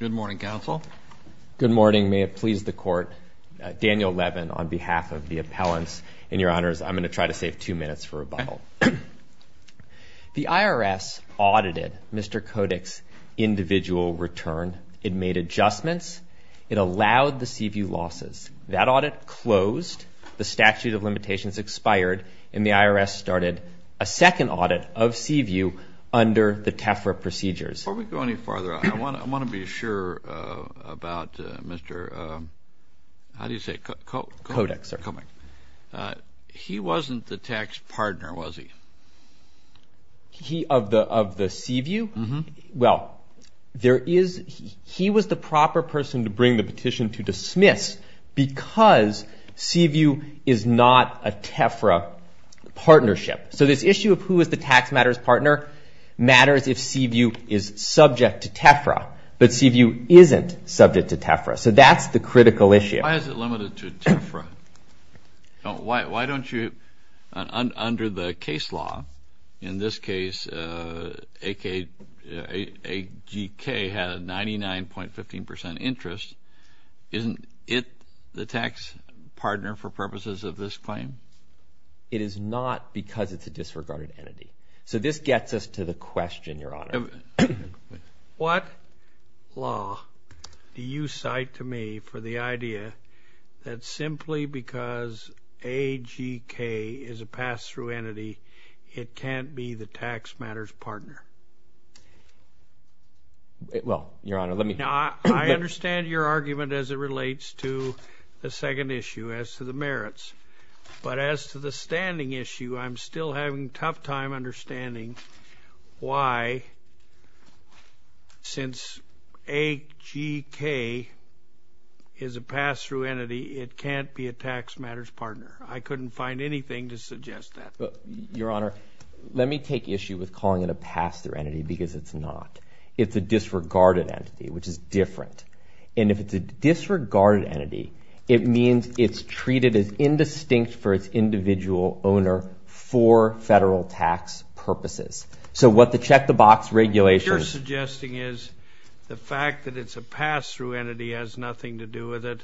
Good morning, counsel. Good morning. May it please the court. Daniel Levin on behalf of the appellants. And your honors, I'm going to try to save two minutes for rebuttal. The IRS audited Mr. Kodik's individual return. It made adjustments. It allowed the Seaview losses. That audit closed. The statute of limitations expired. And the IRS started a second audit of Seaview under the TEFRA procedures. Before we go any farther, I want to be sure about Mr. – how do you say it? Kodik, sir. Kodik. He wasn't the tax partner, was he? He – of the Seaview? Uh-huh. Well, there is – he was the proper person to bring the petition to dismiss because Seaview is not a TEFRA partnership. So this issue of who is the tax matters partner matters if Seaview is subject to TEFRA. But Seaview isn't subject to TEFRA. So that's the critical issue. Why is it limited to TEFRA? Why don't you – under the case law, in this case, AGK had a 99.15% interest. Isn't it the tax partner for purposes of this claim? It is not because it's a disregarded entity. So this gets us to the question, Your Honor. What law do you cite to me for the idea that simply because AGK is a pass-through entity, it can't be the tax matters partner? I mean, I understand your argument as it relates to the second issue as to the merits. But as to the standing issue, I'm still having a tough time understanding why, since AGK is a pass-through entity, it can't be a tax matters partner. I couldn't find anything to suggest that. Your Honor, let me take issue with calling it a pass-through entity because it's not. It's a disregarded entity, which is different. And if it's a disregarded entity, it means it's treated as indistinct for its individual owner for federal tax purposes. So what the check-the-box regulation – What you're suggesting is the fact that it's a pass-through entity has nothing to do with it.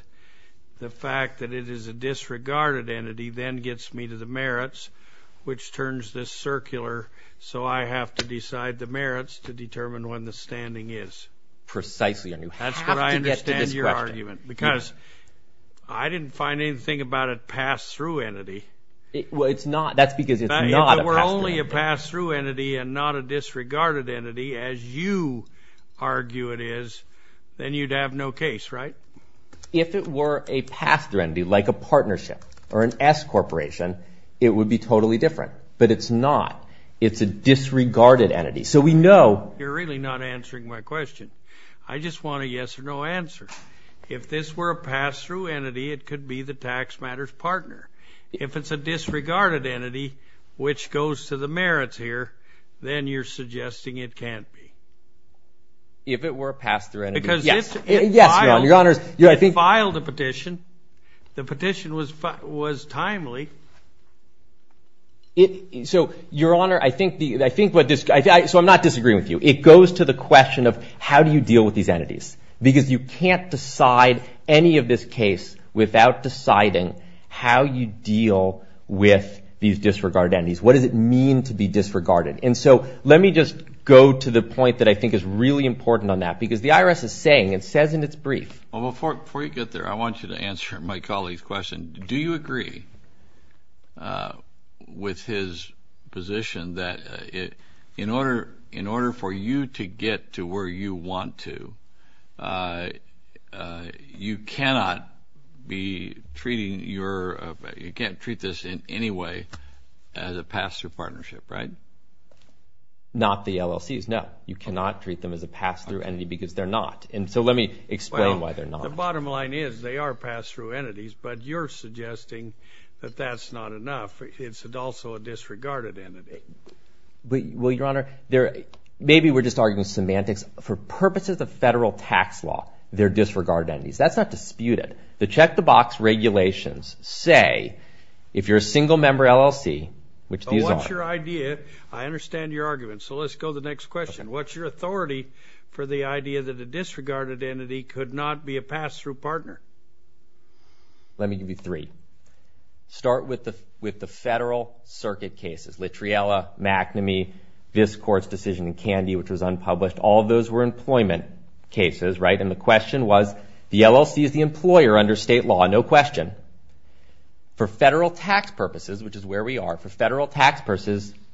The fact that it is a disregarded entity then gets me to the merits, which turns this circular. So I have to decide the merits to determine when the standing is. Precisely. And you have to get to this question. That's what I understand your argument. Because I didn't find anything about a pass-through entity. Well, it's not. That's because it's not a pass-through entity. If it were only a pass-through entity and not a disregarded entity, as you argue it is, then you'd have no case, right? If it were a pass-through entity, like a partnership or an S corporation, it would be totally different. But it's not. It's a disregarded entity. So we know – You're really not answering my question. I just want a yes-or-no answer. If this were a pass-through entity, it could be the tax matters partner. If it's a disregarded entity, which goes to the merits here, then you're suggesting it can't be. If it were a pass-through entity – Because it's – Yes, Your Honor. It filed a petition. The petition was timely. So, Your Honor, I think what this – so I'm not disagreeing with you. It goes to the question of how do you deal with these entities. Because you can't decide any of this case without deciding how you deal with these disregarded entities. What does it mean to be disregarded? And so let me just go to the point that I think is really important on that. Because the IRS is saying, it says in its brief – with his position that in order for you to get to where you want to, you cannot be treating your – you can't treat this in any way as a pass-through partnership, right? Not the LLCs, no. You cannot treat them as a pass-through entity because they're not. And so let me explain why they're not. The bottom line is they are pass-through entities, but you're suggesting that that's not enough. It's also a disregarded entity. Well, Your Honor, maybe we're just arguing semantics. For purposes of federal tax law, they're disregarded entities. That's not disputed. The check-the-box regulations say if you're a single-member LLC, which these are – What's your idea? I understand your argument. So let's go to the next question. What's your authority for the idea that a disregarded entity could not be a pass-through partner? Let me give you three. Start with the federal circuit cases, Littriella, McNamee, this court's decision in Candy, which was unpublished. All of those were employment cases, right? And the question was, the LLC is the employer under state law, no question. For federal tax purposes, which is where we are, for federal tax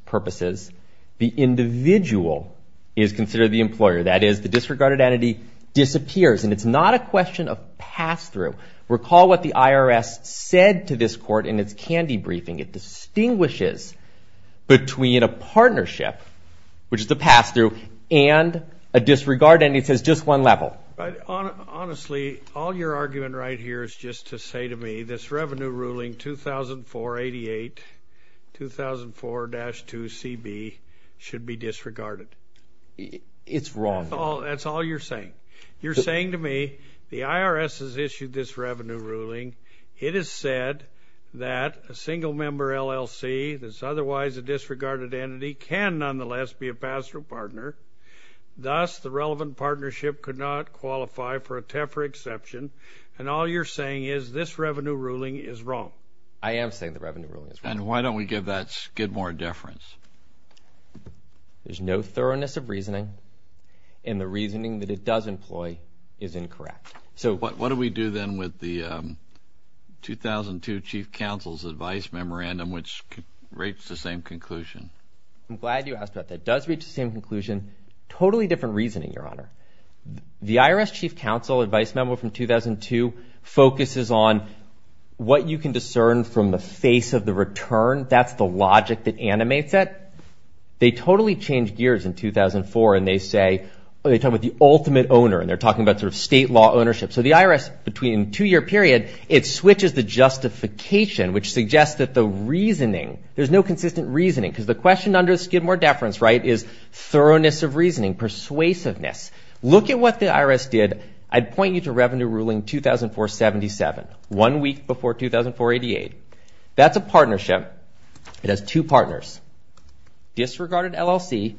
purposes, the individual is considered the employer. That is, the disregarded entity disappears, and it's not a question of pass-through. Recall what the IRS said to this court in its Candy briefing. It distinguishes between a partnership, which is the pass-through, and a disregarded entity. It says just one level. Honestly, all your argument right here is just to say to me this revenue ruling, 2004-88, 2004-2CB, should be disregarded. It's wrong. That's all you're saying. You're saying to me the IRS has issued this revenue ruling. It has said that a single-member LLC that's otherwise a disregarded entity can, nonetheless, be a pass-through partner. Thus, the relevant partnership could not qualify for a TEFRA exception, and all you're saying is this revenue ruling is wrong. I am saying the revenue ruling is wrong. And why don't we give that skid more deference? There's no thoroughness of reasoning, and the reasoning that it does employ is incorrect. So what do we do then with the 2002 Chief Counsel's advice memorandum, which reached the same conclusion? I'm glad you asked about that. It does reach the same conclusion. Totally different reasoning, Your Honor. The IRS Chief Counsel advice memo from 2002 focuses on what you can discern from the face of the return. That's the logic that animates it. They totally changed gears in 2004, and they say they're talking about the ultimate owner, and they're talking about sort of state law ownership. So the IRS, between a two-year period, it switches the justification, which suggests that the reasoning, there's no consistent reasoning because the question under the skid more deference, right, is thoroughness of reasoning, persuasiveness. Look at what the IRS did. I'd point you to Revenue Ruling 2004-77, one week before 2004-88. That's a partnership. It has two partners, disregarded LLC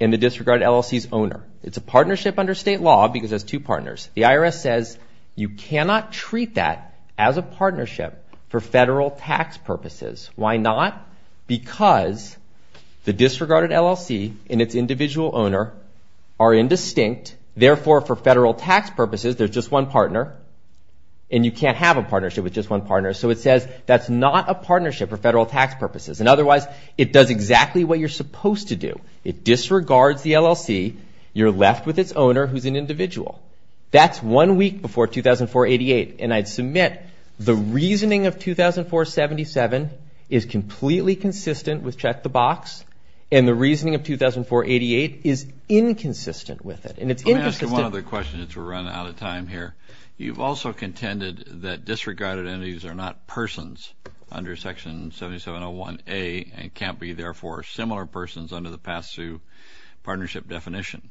and the disregarded LLC's owner. It's a partnership under state law because it has two partners. The IRS says you cannot treat that as a partnership for federal tax purposes. Why not? Because the disregarded LLC and its individual owner are indistinct. Therefore, for federal tax purposes, there's just one partner, and you can't have a partnership with just one partner. So it says that's not a partnership for federal tax purposes. And otherwise, it does exactly what you're supposed to do. It disregards the LLC. You're left with its owner who's an individual. That's one week before 2004-88. And I'd submit the reasoning of 2004-77 is completely consistent with check the box, and the reasoning of 2004-88 is inconsistent with it. And it's inconsistent. Let me ask you one other question since we're running out of time here. You've also contended that disregarded entities are not persons under Section 7701A and can't be, therefore, similar persons under the PASU partnership definition.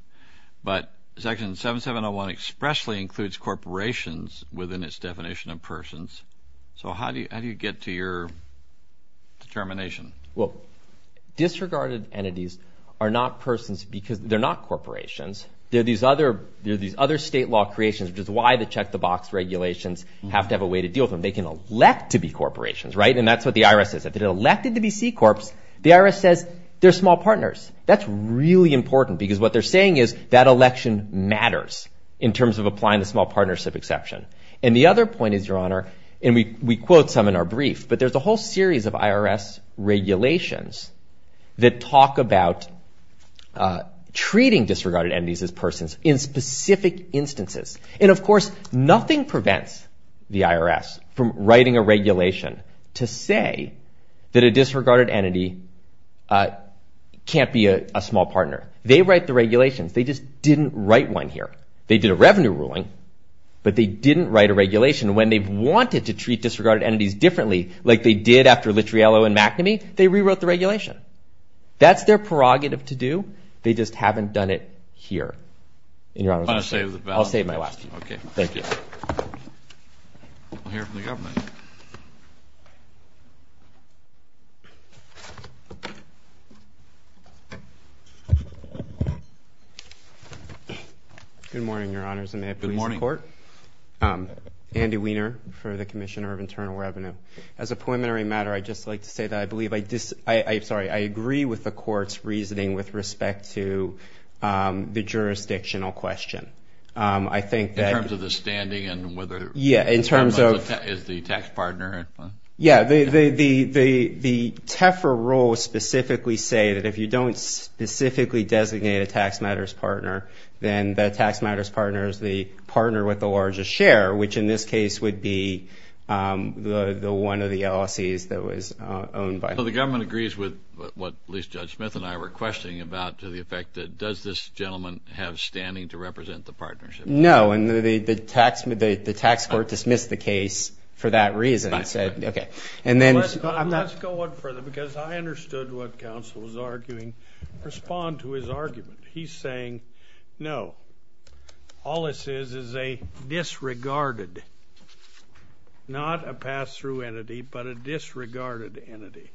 But Section 7701 expressly includes corporations within its definition of persons. So how do you get to your determination? Well, disregarded entities are not persons because they're not corporations. They're these other state law creations, which is why the check the box regulations have to have a way to deal with them. They can elect to be corporations, right? And that's what the IRS says. If they're elected to be C-Corps, the IRS says they're small partners. That's really important because what they're saying is that election matters in terms of applying the small partnership exception. And the other point is, Your Honor, and we quote some in our brief, but there's a whole series of IRS regulations that talk about treating disregarded entities as persons in specific instances. And, of course, nothing prevents the IRS from writing a regulation to say that a disregarded entity can't be a small partner. They write the regulations. They just didn't write one here. They did a revenue ruling, but they didn't write a regulation. When they've wanted to treat disregarded entities differently, like they did after Littriello and McNamee, they rewrote the regulation. That's their prerogative to do. They just haven't done it here. And, Your Honor, I'll save my last one. Okay, thank you. We'll hear from the government. Good morning, Your Honors, and may it please the Court. Good morning. Andy Weiner for the Commissioner of Internal Revenue. As a preliminary matter, I'd just like to say that I believe I disagree with the Court's reasoning with respect to the jurisdictional question. In terms of the standing and whether it's the tax partner? Yeah. The TEFRA rules specifically say that if you don't specifically designate a tax matters partner, then that tax matters partner is the partner with the largest share, which in this case would be one of the LLCs that was owned by. So the government agrees with what at least Judge Smith and I were questioning about to the effect that does this gentleman have standing to support the partnership? No, and the tax court dismissed the case for that reason and said, okay. Let's go one further because I understood what counsel was arguing. Respond to his argument. He's saying, no, all this is is a disregarded, not a pass-through entity, but a disregarded entity.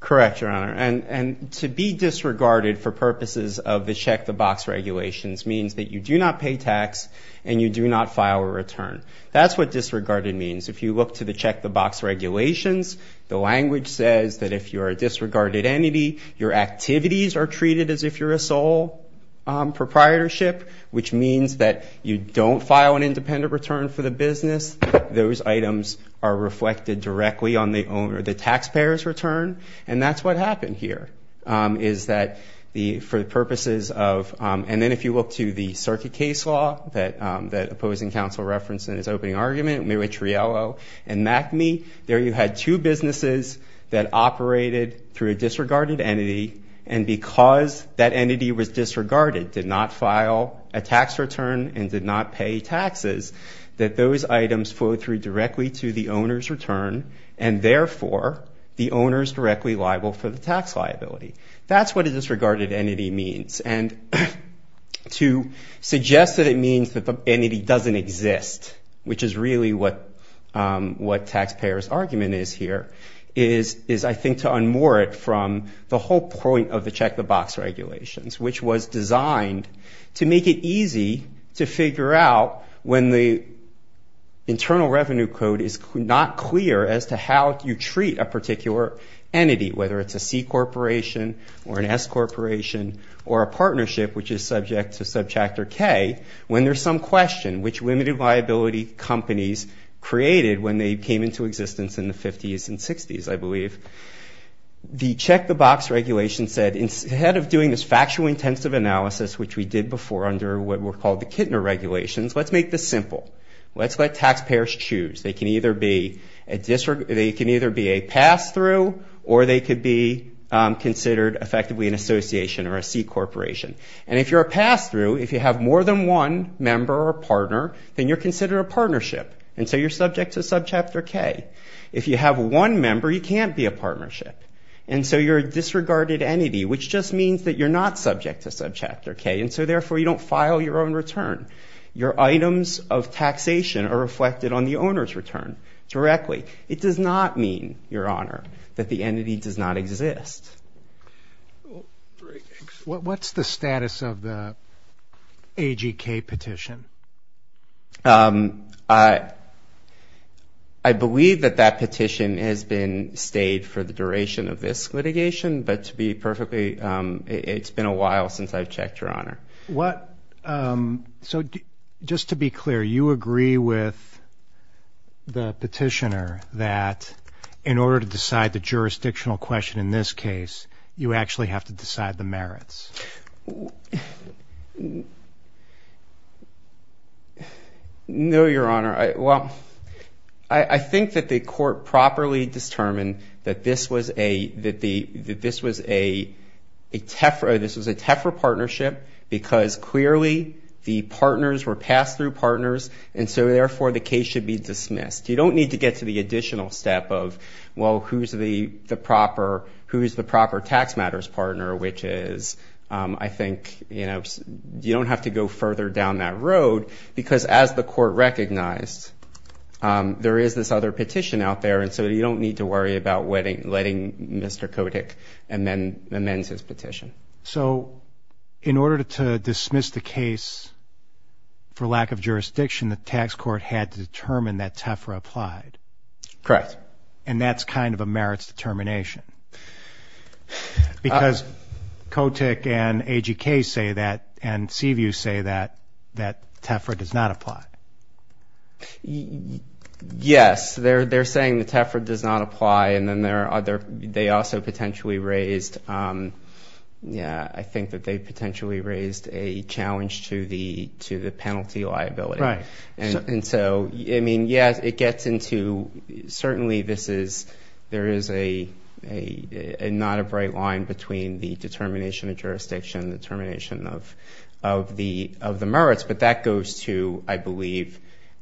Correct, Your Honor. And to be disregarded for purposes of the check-the-box regulations means that you do not pay tax and you do not file a return. That's what disregarded means. If you look to the check-the-box regulations, the language says that if you're a disregarded entity, your activities are treated as if you're a sole proprietorship, which means that you don't file an independent return for the business. Those items are reflected directly on the taxpayer's return, and that's what happened here. And then if you look to the circuit case law that opposing counsel referenced in his opening argument, Mayweather-Riello and MacMe, there you had two businesses that operated through a disregarded entity, and because that entity was disregarded, did not file a tax return, and did not pay taxes, that those items flowed through directly to the owner's return, and therefore, the owner is directly liable for the tax liability. That's what a disregarded entity means. And to suggest that it means that the entity doesn't exist, which is really what taxpayers' argument is here, is I think to unmoor it from the whole point of the check-the-box regulations, which was designed to make it easy to treat a particular entity, whether it's a C corporation or an S corporation, or a partnership, which is subject to Subchapter K, when there's some question, which limited liability companies created when they came into existence in the 50s and 60s, I believe. The check-the-box regulation said, instead of doing this factual intensive analysis, which we did before under what were called the Kintner regulations, let's make this simple. Let's let taxpayers choose. They can either be a pass-through, or they could be considered, effectively, an association or a C corporation. And if you're a pass-through, if you have more than one member or partner, then you're considered a partnership, and so you're subject to Subchapter K. If you have one member, you can't be a partnership, and so you're a disregarded entity, which just means that you're not subject to Subchapter K, and so, therefore, you don't file your own return. Your items of taxation are reflected on the owner's return directly. It does not mean, Your Honor, that the entity does not exist. What's the status of the AGK petition? I believe that that petition has been stayed for the duration of this litigation, but to be perfectly, it's been a while since I've checked, Your Honor. So, just to be clear, you agree with the petitioner that in order to decide the jurisdictional question in this case, you actually have to decide the merits? No, Your Honor. Well, I think that the court properly determined that this was a TEFRA partnership because, clearly, the partners were pass-through partners, and so, therefore, the case should be dismissed. You don't need to get to the additional step of, well, who's the proper tax matters partner, which is, I think, you don't have to go further down that road because as the court recognized, there is this other petition out there, and so you don't need to worry about letting Mr. Kotick amend his petition. So, in order to dismiss the case for lack of jurisdiction, the tax court had to determine that TEFRA applied? Correct. And that's kind of a merits determination because Kotick and AGK say that, and Seaview say that, that TEFRA does not apply? Yes. They're saying that TEFRA does not apply, and then there are other, they also potentially raised, yeah, I think that they potentially raised a challenge to the penalty liability. Right. And so, I mean, yes, it gets into, certainly this is, there is not a bright line between the determination of jurisdiction, determination of the merits, but that goes to, I believe,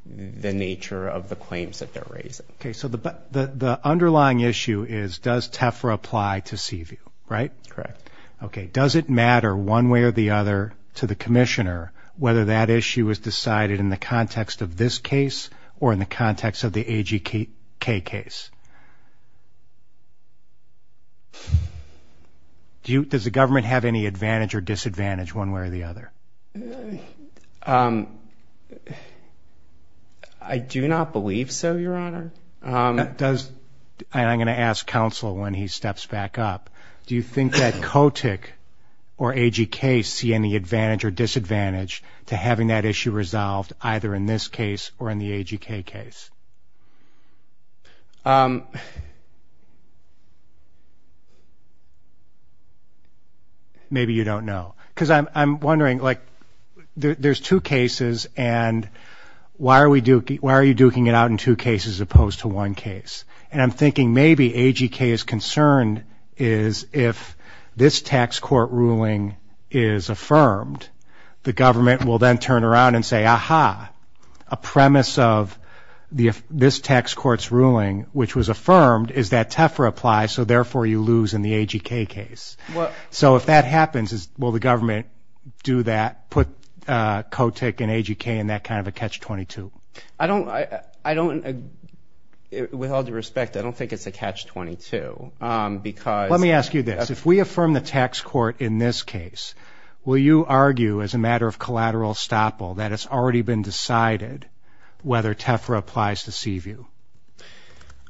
the nature of the claims that they're raising. Okay. So, the underlying issue is does TEFRA apply to Seaview, right? Correct. Okay. Does it matter one way or the other to the commissioner whether that issue is decided in the context of this case or in the context of the AGK case? Does the government have any advantage or disadvantage one way or the other? I do not believe so, Your Honor. Does, and I'm going to ask counsel when he steps back up, do you think that Kotick or AGK see any advantage or disadvantage to having that issue resolved either in this case or in the AGK case? Maybe you don't know. Because I'm wondering, like, there's two cases, and why are you duking it out in two cases as opposed to one case? And I'm thinking maybe AGK is concerned is if this tax court ruling is affirmed, the government will then turn around and say, ah-ha, a premise of this tax court's ruling, which was affirmed, is that TEFRA applies, so therefore you lose in the AGK case. So, if that happens, will the government do that, put Kotick and AGK in that kind of a catch-22? I don't, with all due respect, I don't think it's a catch-22. Let me ask you this. If we affirm the tax court in this case, will you argue as a matter of collateral estoppel that it's already been decided whether TEFRA applies to Seaview?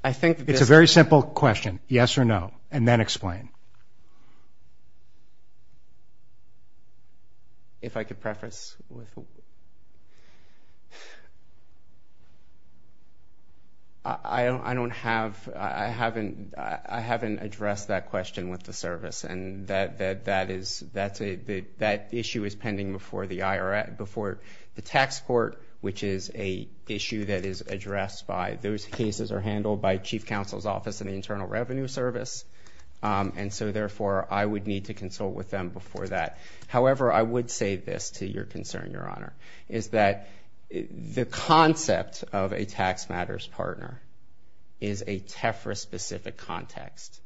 It's a very simple question, yes or no, and then explain. If I could preface. I don't have, I haven't addressed that question with the service, and that issue is pending before the tax court, which is an issue that is addressed by, those cases are handled by Chief Counsel's Office and the Internal Revenue Service, and so, therefore, I would need to consult with them before that. However, I would say this to your concern, Your Honor, is that the concept of a tax matters partner is a TEFRA-specific context,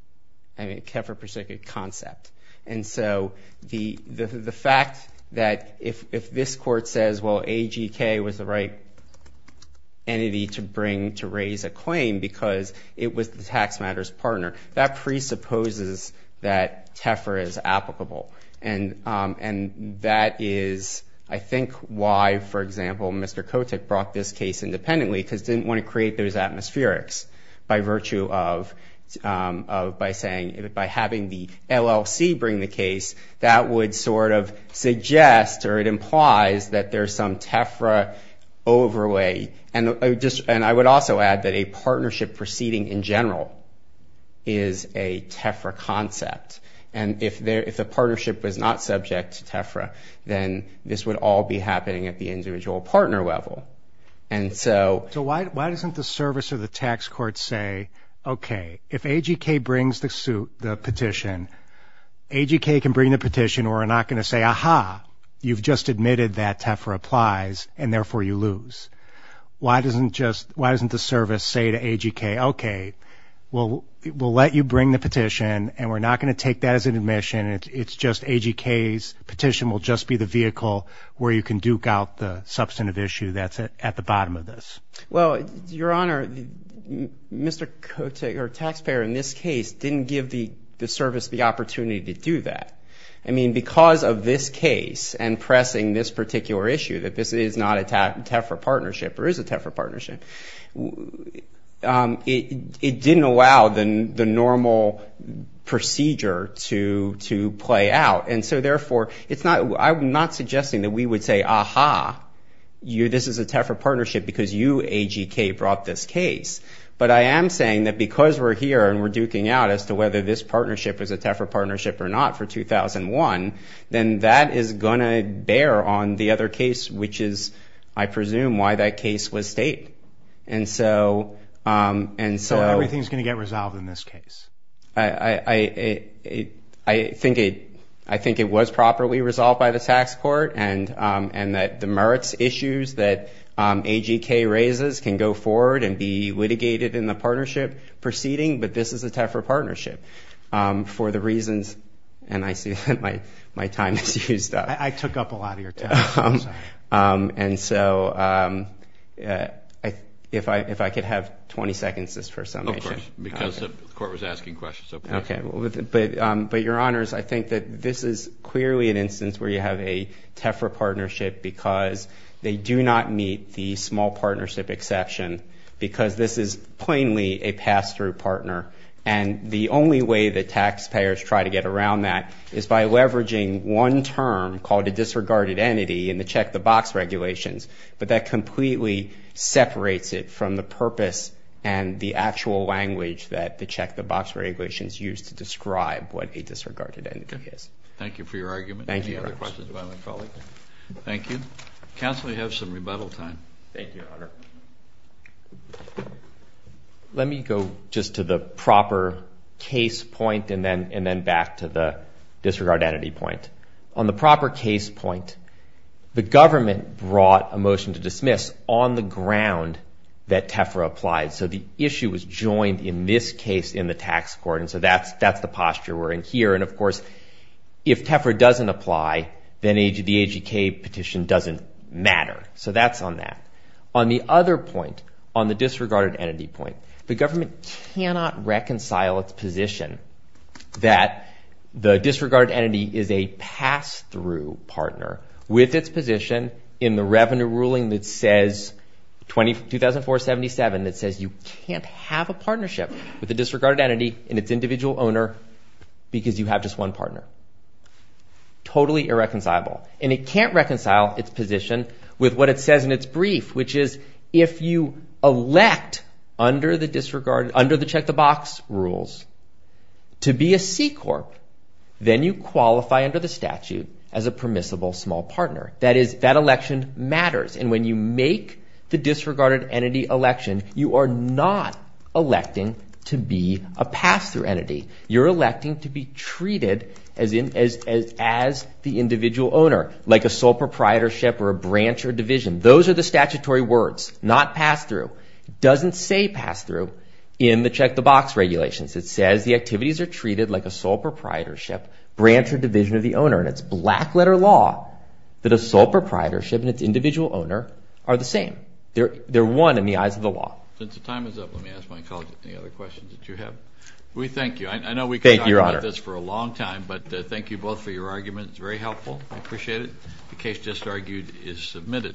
a TEFRA-specific concept, and so the fact that if this court says, well, AGK was the right entity to bring to raise a claim because it was the tax matters partner, that presupposes that TEFRA is applicable, and that is, I think, why, for example, Mr. Kotick brought this case independently because he didn't want to create those atmospherics by virtue of, by saying, by having the LLC bring the case, that would sort of suggest or it implies that there's some TEFRA overlay, and I would also add that a partnership proceeding in general is a TEFRA concept, and if a partnership was not subject to TEFRA, then this would all be happening at the individual partner level, and so. So why doesn't the service or the tax court say, okay, if AGK brings the petition, AGK can bring the petition, or we're not going to say, aha, you've just admitted that TEFRA applies, and, therefore, you lose. Why doesn't the service say to AGK, okay, we'll let you bring the petition, and we're not going to take that as an admission, it's just AGK's petition will just be the vehicle where you can duke out the substantive issue that's at the bottom of this? Well, Your Honor, Mr. Kotick, or taxpayer in this case, didn't give the service the opportunity to do that. I mean, because of this case and pressing this particular issue, that this is not a TEFRA partnership or is a TEFRA partnership, it didn't allow the normal procedure to play out. And so, therefore, I'm not suggesting that we would say, aha, this is a TEFRA partnership because you, AGK, brought this case. But I am saying that because we're here and we're duking out as to whether this partnership is a TEFRA partnership or not for 2001, then that is going to bear on the other case, which is, I presume, why that case was state. So everything's going to get resolved in this case? I think it was properly resolved by the tax court and that the merits issues that AGK raises can go forward and be litigated in the partnership proceeding, but this is a TEFRA partnership for the reasons, and I see that my time is used up. I took up a lot of your time. And so, if I could have 20 seconds just for a summation. Of course, because the court was asking questions. Okay. But, Your Honors, I think that this is clearly an instance where you have a TEFRA partnership because they do not meet the small partnership exception because this is plainly a pass-through partner. And the only way that taxpayers try to get around that is by leveraging one term called a disregarded entity in the check-the-box regulations, but that completely separates it from the purpose and the actual language that the check-the-box regulations use to describe what a disregarded entity is. Okay. Thank you for your argument. Thank you, Your Honors. Any other questions by my colleague? Counsel, you have some rebuttal time. Thank you, Your Honor. Let me go just to the proper case point and then back to the disregarded entity point. On the proper case point, the government brought a motion to dismiss on the ground that TEFRA applied. So, the issue was joined in this case in the tax court, and so that's the posture we're in here. And, of course, if TEFRA doesn't apply, then the AGK petition doesn't matter. So, that's on that. On the other point, on the disregarded entity point, the government cannot reconcile its position that the disregarded entity is a pass-through partner with its position in the revenue ruling that says, 2004-77, that says you can't have a partnership with a disregarded entity and its individual owner because you have just one partner. Totally irreconcilable. And it can't reconcile its position with what it says in its brief, which is if you elect under the check-the-box rules to be a C-Corp, then you qualify under the statute as a permissible small partner. That is, that election matters. And when you make the disregarded entity election, you are not electing to be a pass-through entity. You're electing to be treated as the individual owner, like a sole proprietorship or a branch or division. Those are the statutory words, not pass-through. It doesn't say pass-through in the check-the-box regulations. It says the activities are treated like a sole proprietorship, branch, or division of the owner. And it's black-letter law that a sole proprietorship and its individual owner are the same. They're one in the eyes of the law. Since the time is up, let me ask my colleague any other questions that you have. We thank you. I know we could talk about this for a long time, but thank you both for your arguments. It's very helpful. I appreciate it. The case just argued is submitted.